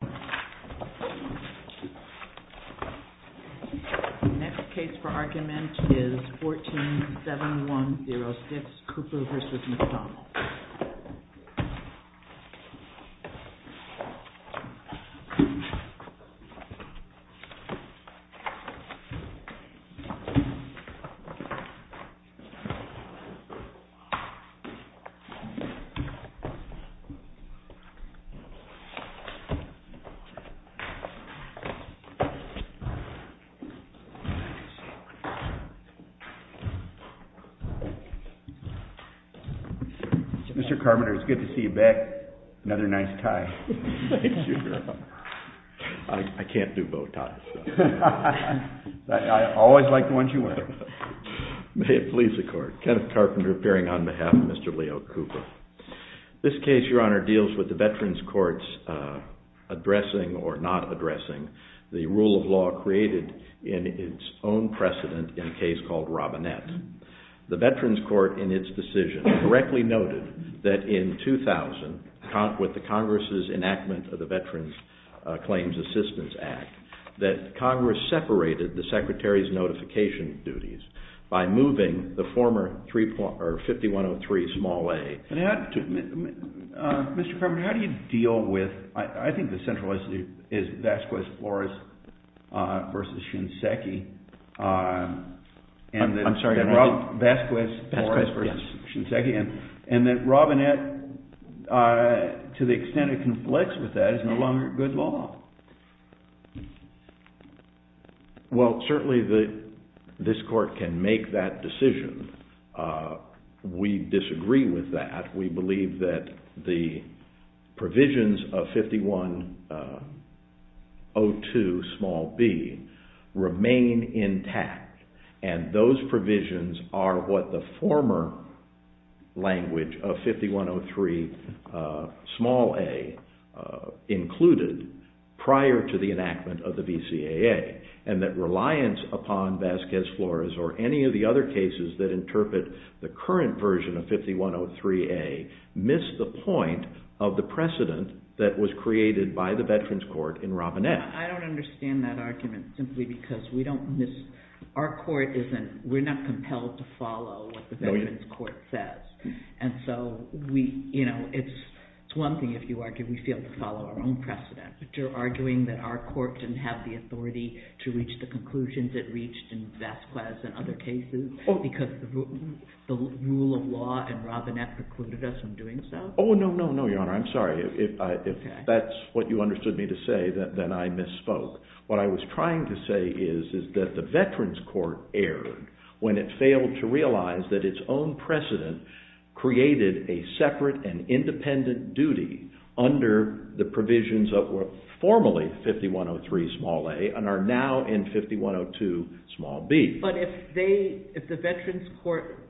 147106 Cooper v. McDonald 147106 Cooper v. McDonald Mr. Carpenter, it's good to see you back, another nice tie. Thank you, Your Honor. I can't do bow ties. I always like the ones you wear. May it please the Court. Kenneth Carpenter appearing on behalf of Mr. Leo Cooper. This case, Your Honor, deals with the Veterans Court's addressing or not addressing the rule of law created in its own precedent in a case called Robinette. The Veterans Court, in its decision, correctly noted that in 2000, with the Congress's enactment of the Veterans Claims Assistance Act, that Congress separated the Secretary's notification duties by moving the former 5103 small a. Mr. Carpenter, how do you deal with, I think the central issue is Vasquez-Flores v. Shinseki, and that Robinette, to the extent it conflicts with that, is no longer good law. Well, certainly this Court can make that decision. We disagree with that. We believe that the provisions of 5102 small b remain intact, and those provisions are what the former language of 5103 small a included prior to the enactment of the VCAA, and that reliance upon Vasquez-Flores or any of the other cases that interpret the current version of 5103a miss the point of the precedent that was created by the Veterans Court in Robinette. I don't understand that argument simply because we don't miss, our Court isn't, we're not compelled to follow what the Veterans Court says. It's one thing if you argue we failed to follow our own precedent, but you're arguing that our Court didn't have the authority to reach the conclusions it reached in Vasquez and other cases because the rule of law in Robinette precluded us from doing so? Oh, no, no, no, Your Honor, I'm sorry. If that's what you understood me to say, then I misspoke. What I was trying to say is that the Veterans Court erred when it failed to realize that its own precedent created a separate and independent duty under the provisions of what were formerly 5103 small a and are now in 5102 small b. But if the Veterans Court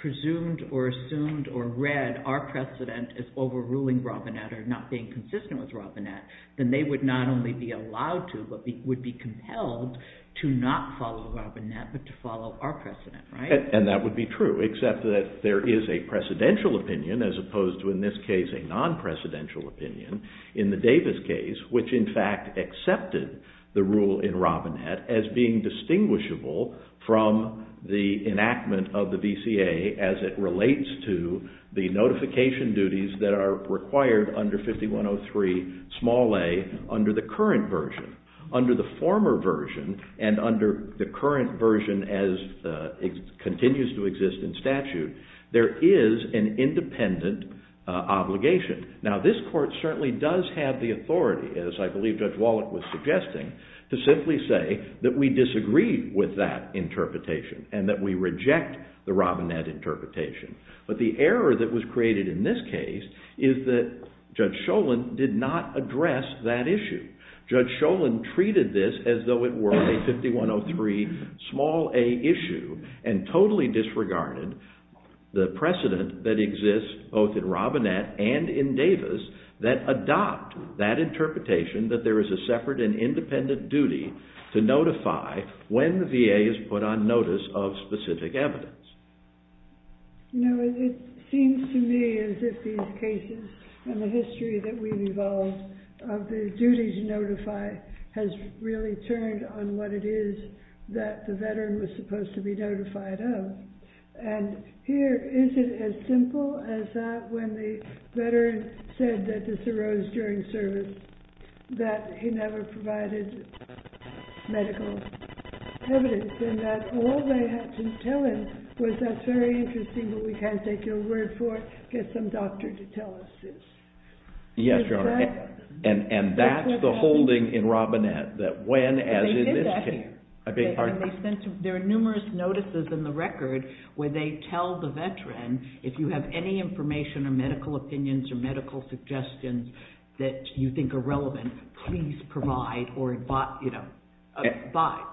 presumed or assumed or read our precedent as overruling Robinette or not being consistent with Robinette, then they would not only be allowed to but would be compelled to not follow Robinette but to follow our precedent, right? And that would be true, except that there is a precedential opinion as opposed to in this case a non-precedential opinion in the Davis case, which in fact accepted the rule in Robinette as being distinguishable from the enactment of the VCA as it relates to the notification duties that are required under 5103 small a under the current version. Under the former version and under the current version as it continues to exist in statute, there is an independent obligation. Now, this court certainly does have the authority, as I believe Judge Wallach was suggesting, to simply say that we disagree with that interpretation and that we reject the Robinette interpretation. But the error that was created in this case is that Judge Schoen did not address that issue. Judge Schoen treated this as though it were a 5103 small a issue and totally disregarded the precedent that exists both in Robinette and in Davis that adopt that interpretation that there is a separate and independent duty to notify when the VA is put on notice of specific evidence. You know, it seems to me as if these cases and the history that we've evolved of the duty to notify has really turned on what it is that the veteran was supposed to be notified of. And here, is it as simple as that when the veteran said that this arose during service that he never provided medical evidence and that all they had to tell him was, that's very interesting, but we can't take your word for it. Get some doctor to tell us this. Yes, Your Honor. And that's the holding in Robinette that when, as in this case. They did that here. I beg your pardon? There are numerous notices in the record where they tell the veteran, if you have any information or medical opinions or medical suggestions that you think are relevant, please provide or, you know,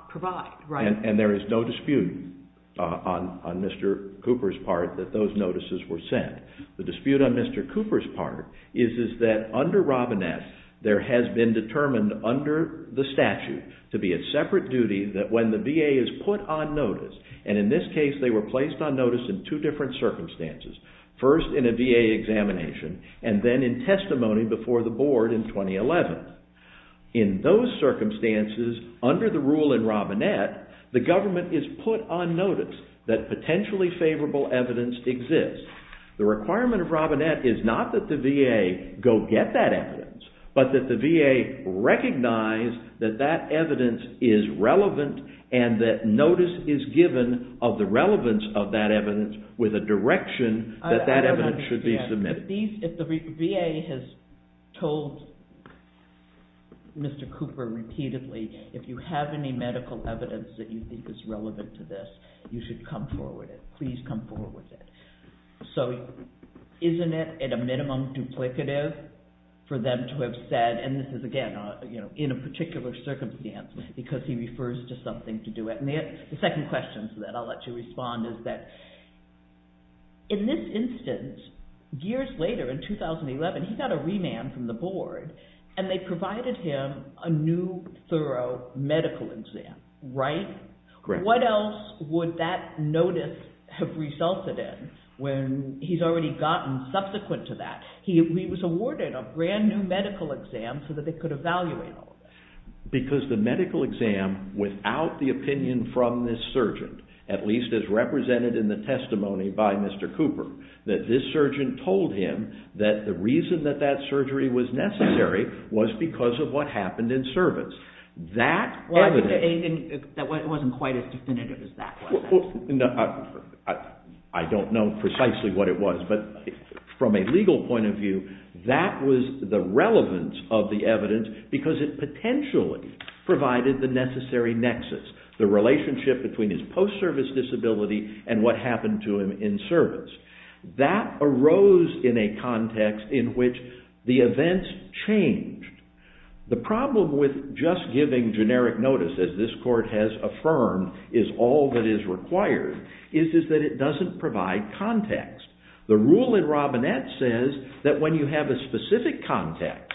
provide. And there is no dispute on Mr. Cooper's part that those notices were sent. The dispute on Mr. Cooper's part is that under Robinette, there has been determined under the statute to be a separate duty that when the VA is put on notice, and in this case they were placed on notice in two different circumstances. First in a VA examination and then in testimony before the board in 2011. In those circumstances, under the rule in Robinette, the government is put on notice that potentially favorable evidence exists. The requirement of Robinette is not that the VA go get that evidence, but that the VA recognize that that evidence is relevant and that notice is given of the relevance of that evidence with a direction that that evidence should be submitted. If the VA has told Mr. Cooper repeatedly, if you have any medical evidence that you think is relevant to this, you should come forward with it. Please come forward with it. So, isn't it at a minimum duplicative for them to have said, and this is again, you know, in a particular circumstance because he refers to something to do it. The second question that I'll let you respond is that in this instance, years later in 2011, he got a remand from the board and they provided him a new thorough medical exam, right? Correct. What else would that notice have resulted in when he's already gotten subsequent to that? He was awarded a brand new medical exam so that they could evaluate all of it. Because the medical exam without the opinion from this surgeon, at least as represented in the testimony by Mr. Cooper, that this surgeon told him that the reason that that surgery was necessary was because of what happened in service. That wasn't quite as definitive as that was. I don't know precisely what it was, but from a legal point of view, that was the relevance of the evidence because it potentially provided the necessary nexus, the relationship between his post-service disability and what happened to him in service. That arose in a context in which the events changed. The problem with just giving generic notice, as this court has affirmed, is all that is required, is that it doesn't provide context. The rule in Robinette says that when you have a specific context,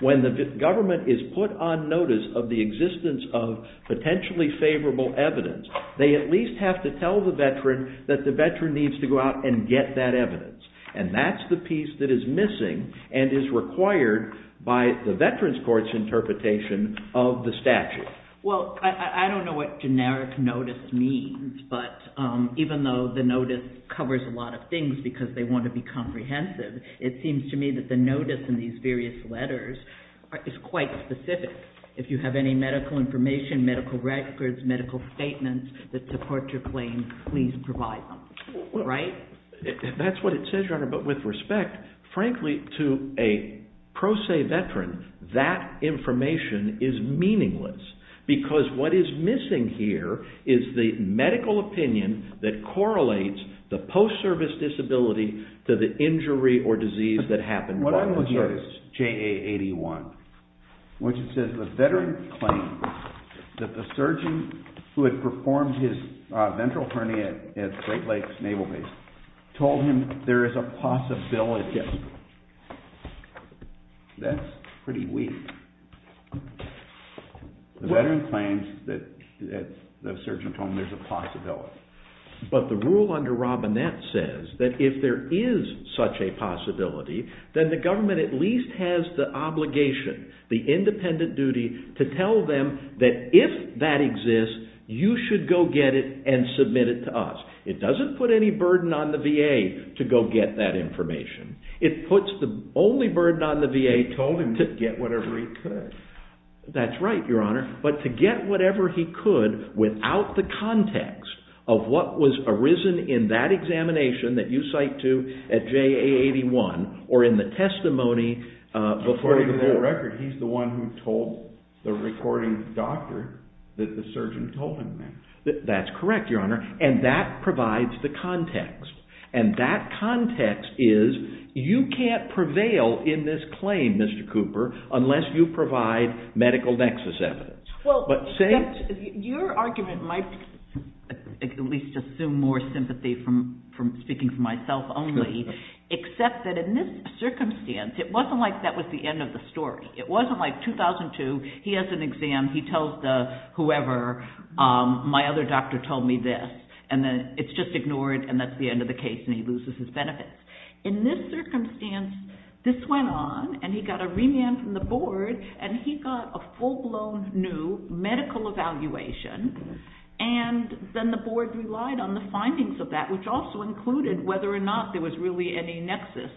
when the government is put on notice of the existence of potentially favorable evidence, they at least have to tell the veteran that the veteran needs to go out and get that evidence. That's the piece that is missing and is required by the veteran's court's interpretation of the statute. Well, I don't know what generic notice means, but even though the notice covers a lot of things because they want to be comprehensive, it seems to me that the notice in these various letters is quite specific. If you have any medical information, medical records, medical statements that support your claim, please provide them. That's what it says, Your Honor, but with respect, frankly, to a pro se veteran, that information is meaningless because what is missing here is the medical opinion that correlates the post-service disability to the injury or disease that happened while in service. The veteran claims that the surgeon who had performed his ventral hernia at Great Lakes Naval Base told him there is a possibility. That's pretty weak. The veteran claims that the surgeon told him there's a possibility. But the rule under Robinette says that if there is such a possibility, then the government at least has the obligation, the independent duty, to tell them that if that exists, you should go get it and submit it to us. It doesn't put any burden on the VA to go get that information. It puts the only burden on the VA to get whatever he could. That's right, Your Honor, but to get whatever he could without the context of what was arisen in that examination that you cite to at JA-81 or in the testimony before you. According to that record, he's the one who told the recording to the doctor that the surgeon told him that. That's correct, Your Honor, and that provides the context. And that context is you can't prevail in this claim, Mr. Cooper, unless you provide medical nexus evidence. Your argument might at least assume more sympathy from speaking for myself only, except that in this circumstance, it wasn't like that was the end of the story. It wasn't like 2002, he has an exam, he tells the whoever, my other doctor told me this, and then it's just ignored, and that's the end of the case, and he loses his benefits. In this circumstance, this went on, and he got a remand from the board, and he got a full-blown new medical evaluation, and then the board relied on the findings of that, which also included whether or not there was really any nexus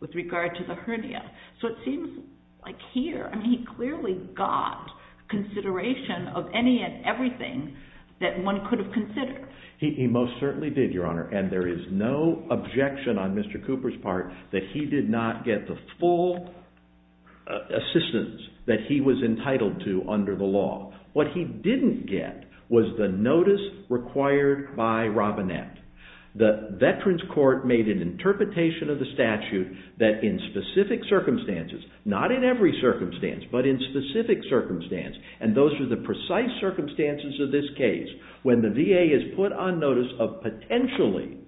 with regard to the hernia. So it seems like here, he clearly got consideration of any and everything that one could have considered. He most certainly did, Your Honor, and there is no objection on Mr. Cooper's part that he did not get the full assistance that he was entitled to under the law. What he didn't get was the notice required by Robinette. The Veterans Court made an interpretation of the statute that in specific circumstances, not in every circumstance, but in specific circumstance, and those are the precise circumstances of this case, when the VA is put on notice of potentially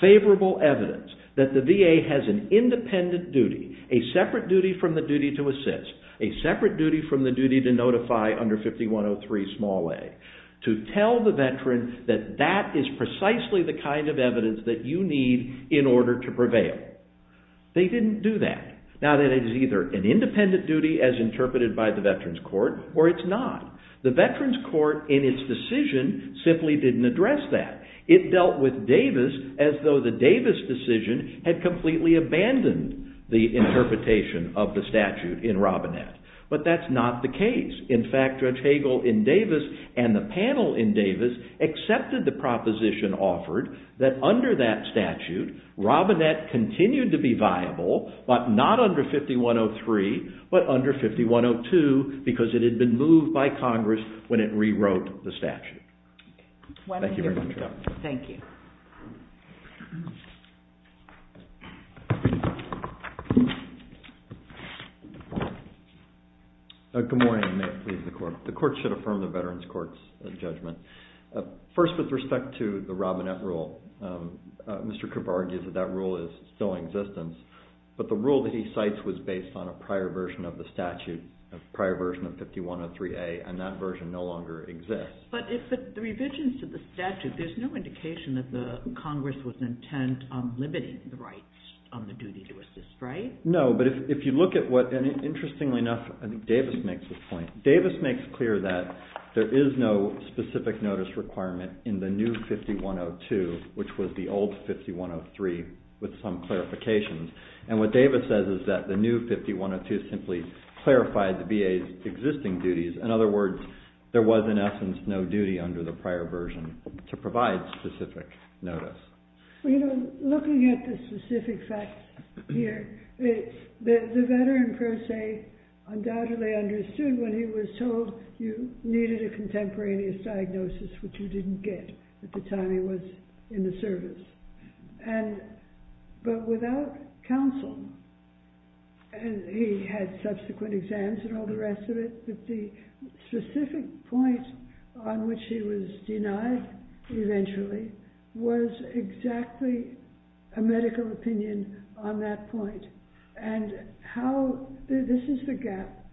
favorable evidence that the VA has an independent duty, a separate duty from the duty to assist, a separate duty from the duty to notify under 5103a, to tell the veteran that that is precisely the kind of evidence that you need in order to prevail. They didn't do that. Now, that is either an independent duty as interpreted by the Veterans Court, or it's not. The Veterans Court, in its decision, simply didn't address that. It dealt with Davis as though the Davis decision had completely abandoned the interpretation of the statute in Robinette. But that's not the case. In fact, Judge Hagel in Davis and the panel in Davis accepted the proposition offered that under that statute, Robinette continued to be viable, but not under 5103, but under 5102, because it had been moved by Congress when it rewrote the statute. Thank you very much. Thank you. Good morning. May it please the Court. The Court should affirm the Veterans Court's judgment. First, with respect to the Robinette rule, Mr. Kovar argues that that rule is still in existence, but the rule that he cites was based on a prior version of the statute, a prior version of 5103a, and that version no longer exists. But the revisions to the statute, there's no indication that Congress was intent on limiting the rights on the duty to assist, right? No, but if you look at what, and interestingly enough, I think Davis makes this point, Davis makes clear that there is no specific notice requirement in the new 5102, which was the old 5103, with some clarifications. And what Davis says is that the new 5102 simply clarified the VA's existing duties. In other words, there was, in essence, no duty under the prior version to provide specific notice. Well, you know, looking at the specific facts here, the veteran, per se, undoubtedly understood when he was told you needed a contemporaneous diagnosis, which you didn't get at the time he was in the service. But without counsel, and he had subsequent exams and all the rest of it, the specific point on which he was denied eventually was exactly a medical opinion on that point. And how, this is the gap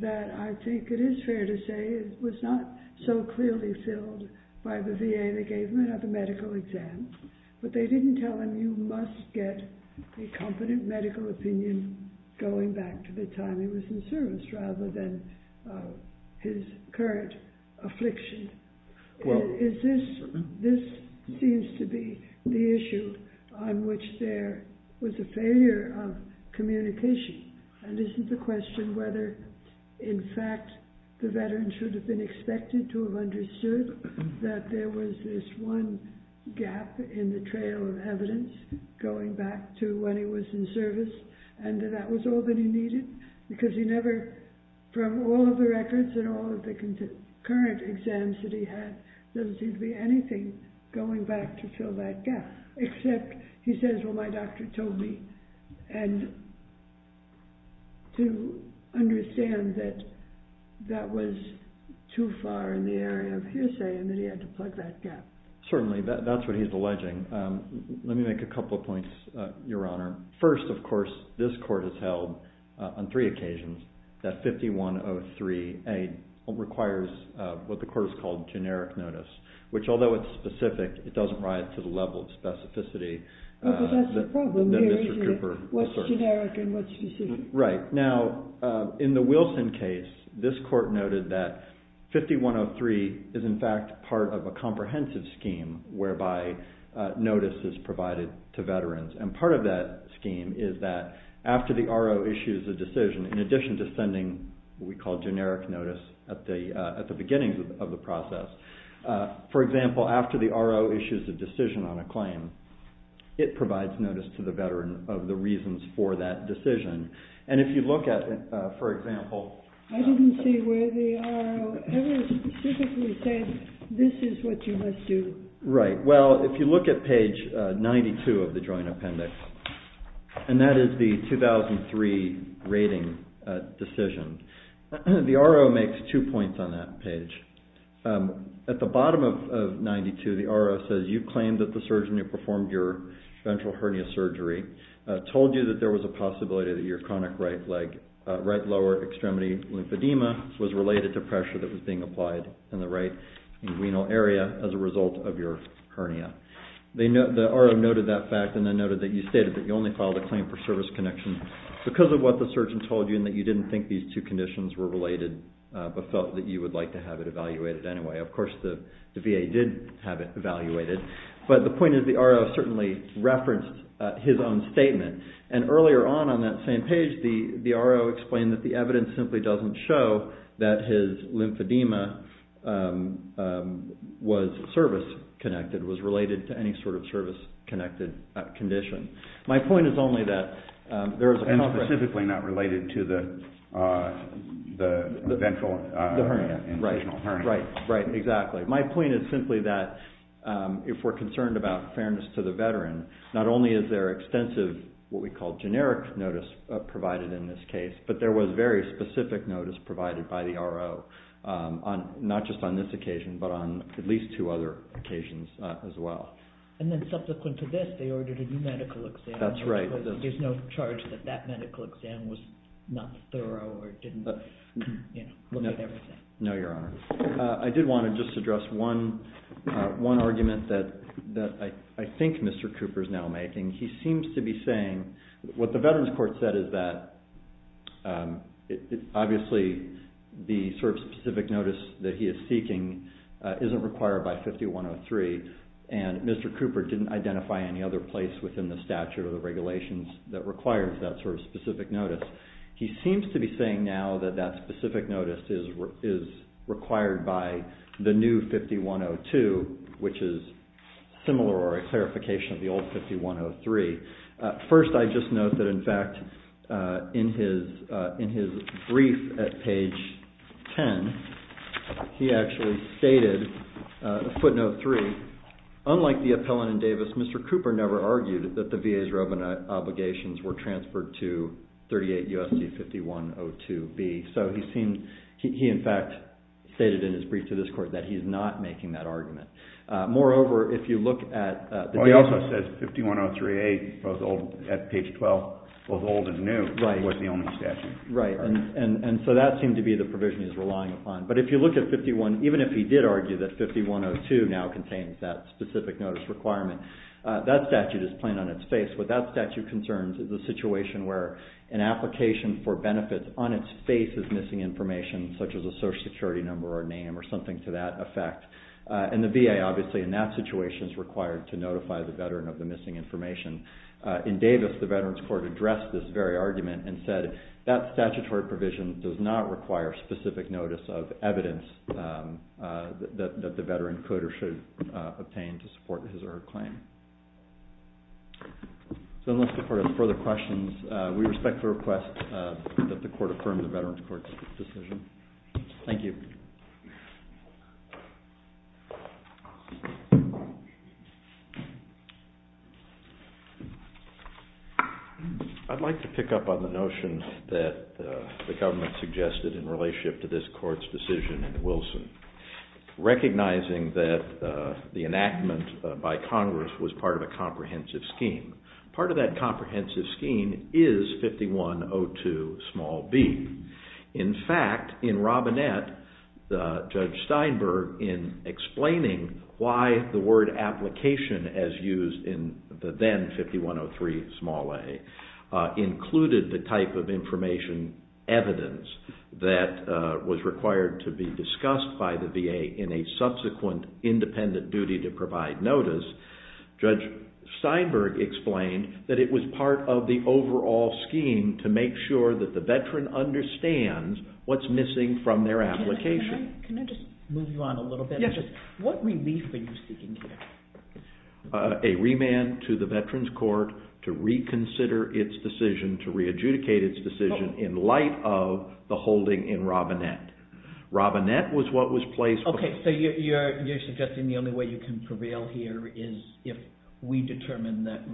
that I think it is fair to say was not so clearly filled by the VA that gave him another medical exam, but they didn't tell him you must get a competent medical opinion going back to the time he was in service, rather than his current affliction. This seems to be the issue on which there was a failure of communication. And isn't the question whether, in fact, the veteran should have been expected to have understood that there was this one gap in the trail of evidence going back to when he was in service, and that that was all that he needed? Because he never, from all of the records and all of the current exams that he had, doesn't seem to be anything going back to fill that gap, except he says, well, my doctor told me, and to understand that that was too far in the area of hearsay and that he had to plug that gap. Certainly, that's what he's alleging. Let me make a couple of points, Your Honor. First, of course, this court has held on three occasions that 5103A requires what the court has called generic notice, which although it's specific, it doesn't rise to the level of specificity that Mr. Cooper asserts. Right. Now, in the Wilson case, this court noted that 5103 is, in fact, part of a comprehensive scheme whereby notice is provided to veterans, and part of that scheme is that after the RO issues a decision, in addition to sending what we call generic notice at the beginning of the process, for example, after the RO issues a decision on a claim, it provides notice to the veteran of the reasons for that decision. And if you look at, for example... I didn't see where the RO ever specifically said, this is what you must do. Right. Well, if you look at page 92 of the Joint Appendix, and that is the 2003 rating decision, the RO makes two points on that page. At the bottom of 92, the RO says, you claim that the surgeon who performed your ventral hernia surgery told you that there was a possibility that your chronic right lower extremity lymphedema was related to pressure that was being applied in the right renal area as a result of your hernia. The RO noted that fact, and then noted that you stated that you only filed a claim for service connection because of what the surgeon told you, and that you didn't think these two conditions were related, but felt that you would like to have it evaluated anyway. Of course, the VA did have it evaluated, but the point is the RO certainly referenced his own statement, and earlier on on that same page, the RO explained that the evidence simply doesn't show that his lymphedema was service-connected, was related to any sort of service-connected condition. And specifically not related to the ventral hernia. Right, exactly. My point is simply that if we're concerned about fairness to the veteran, not only is there extensive what we call generic notice provided in this case, but there was very specific notice provided by the RO, not just on this occasion, but on at least two other occasions as well. And then subsequent to this, they ordered a new medical exam. That's right. There's no charge that that medical exam was not thorough or didn't look at everything. No, Your Honor. I did want to just address one argument that I think Mr. Cooper is now making. What the Veterans Court said is that obviously the sort of specific notice that he is seeking isn't required by 5103, and Mr. Cooper didn't identify any other place within the statute or the regulations that requires that sort of specific notice. He seems to be saying now that that specific notice is required by the new 5102, which is similar or a clarification of the old 5103. First, I just note that, in fact, in his brief at page 10, he actually stated, footnote 3, unlike the appellant in Davis, Mr. Cooper never argued that the VA's roving obligations were transferred to 38 U.S.C. 5102B. So he in fact stated in his brief to this court that he is not making that argument. He also says 5103A at page 12, both old and new, wasn't the only statute. Right. And so that seemed to be the provision he's relying upon. But if you look at 51, even if he did argue that 5102 now contains that specific notice requirement, that statute is plain on its face. What that statute concerns is a situation where an application for benefits on its face is missing information, such as a Social Security number or name or something to that effect. And the VA, obviously, in that situation, is required to notify the veteran of the missing information. In Davis, the Veterans Court addressed this very argument and said that statutory provision does not require specific notice of evidence that the veteran could or should obtain to support his or her claim. So unless the court has further questions, we respect the request that the court affirm the Veterans Court's decision. Thank you. I'd like to pick up on the notion that the government suggested in relationship to this court's decision in Wilson. Recognizing that the enactment by Congress was part of a comprehensive scheme. Part of that comprehensive scheme is 5102b. In fact, in Robinette, Judge Steinberg, in explaining why the word application, as used in the then 5103a, included the type of information evidence that was required to be discussed by the VA in a subsequent independent duty to provide notice. Judge Steinberg explained that it was part of the overall scheme to make sure that the veteran understands what's missing from their application. Can I just move you on a little bit? Yes. What relief are you seeking here? A remand to the Veterans Court to reconsider its decision, to re-adjudicate its decision in light of the holding in Robinette. Robinette was what was placed... Okay, so you're suggesting the only way you can prevail here is if we determine that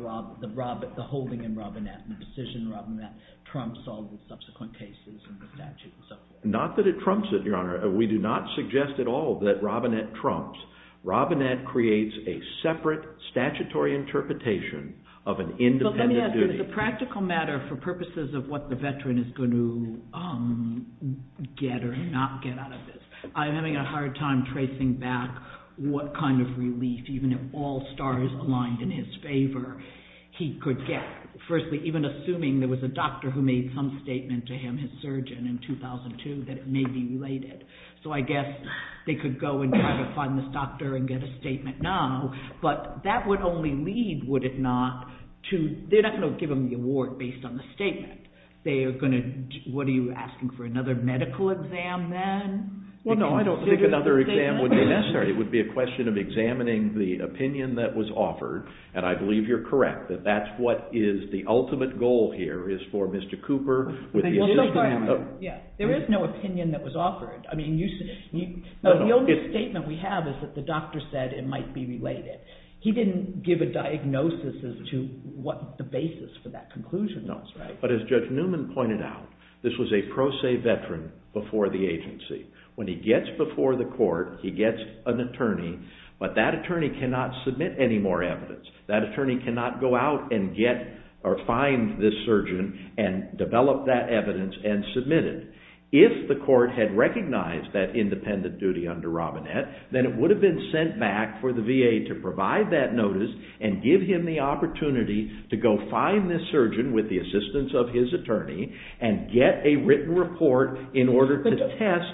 the holding in Robinette, the decision in Robinette, trumps all the subsequent cases in the statute and so forth. Not that it trumps it, Your Honor. We do not suggest at all that Robinette trumps. Robinette creates a separate statutory interpretation of an independent duty. It is a practical matter for purposes of what the veteran is going to get or not get out of this. I'm having a hard time tracing back what kind of relief, even if all stars aligned in his favor, he could get. Firstly, even assuming there was a doctor who made some statement to him, his surgeon in 2002, that it may be related. So I guess they could go and try to find this doctor and get a statement now, but that would only lead, would it not, to... They're not going to give him the award based on the statement. They are going to... What are you asking, for another medical exam then? Well, no, I don't think another exam would be necessary. It would be a question of examining the opinion that was offered. And I believe you're correct that that's what is the ultimate goal here, is for Mr. Cooper... There is no opinion that was offered. I mean, the only statement we have is that the doctor said it might be related. He didn't give a diagnosis as to what the basis for that conclusion was, right? No, but as Judge Newman pointed out, this was a pro se veteran before the agency. When he gets before the court, he gets an attorney, but that attorney cannot submit any more evidence. That attorney cannot go out and get or find this surgeon and develop that evidence and submit it. If the court had recognized that independent duty under Robinette, then it would have been sent back for the VA to provide that notice and give him the opportunity to go find this surgeon with the assistance of his attorney and get a written report in order to test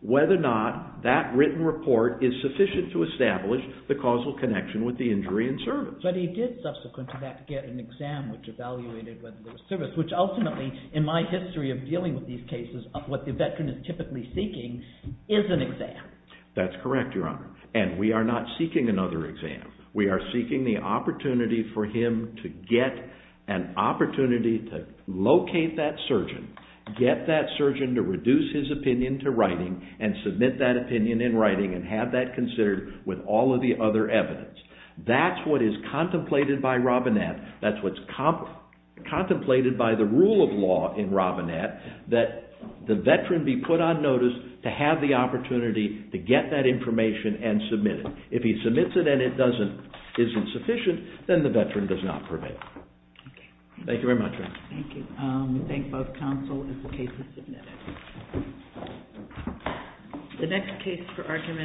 whether or not that written report is sufficient to establish the causal connection with the injury in service. But he did subsequently have to get an exam which evaluated whether there was service, which ultimately, in my history of dealing with these cases, what the veteran is typically seeking is an exam. That's correct, Your Honor. And we are not seeking another exam. We are seeking the opportunity for him to get an opportunity to locate that surgeon, get that surgeon to reduce his opinion to writing and submit that opinion in writing and have that considered with all of the other evidence. That's what is contemplated by Robinette. That's what's contemplated by the rule of law in Robinette, that the veteran be put on notice to have the opportunity to get that information and submit it. If he submits it and it isn't sufficient, then the veteran does not prevail. Thank you very much. Thank you. We thank both counsel if the case is submitted.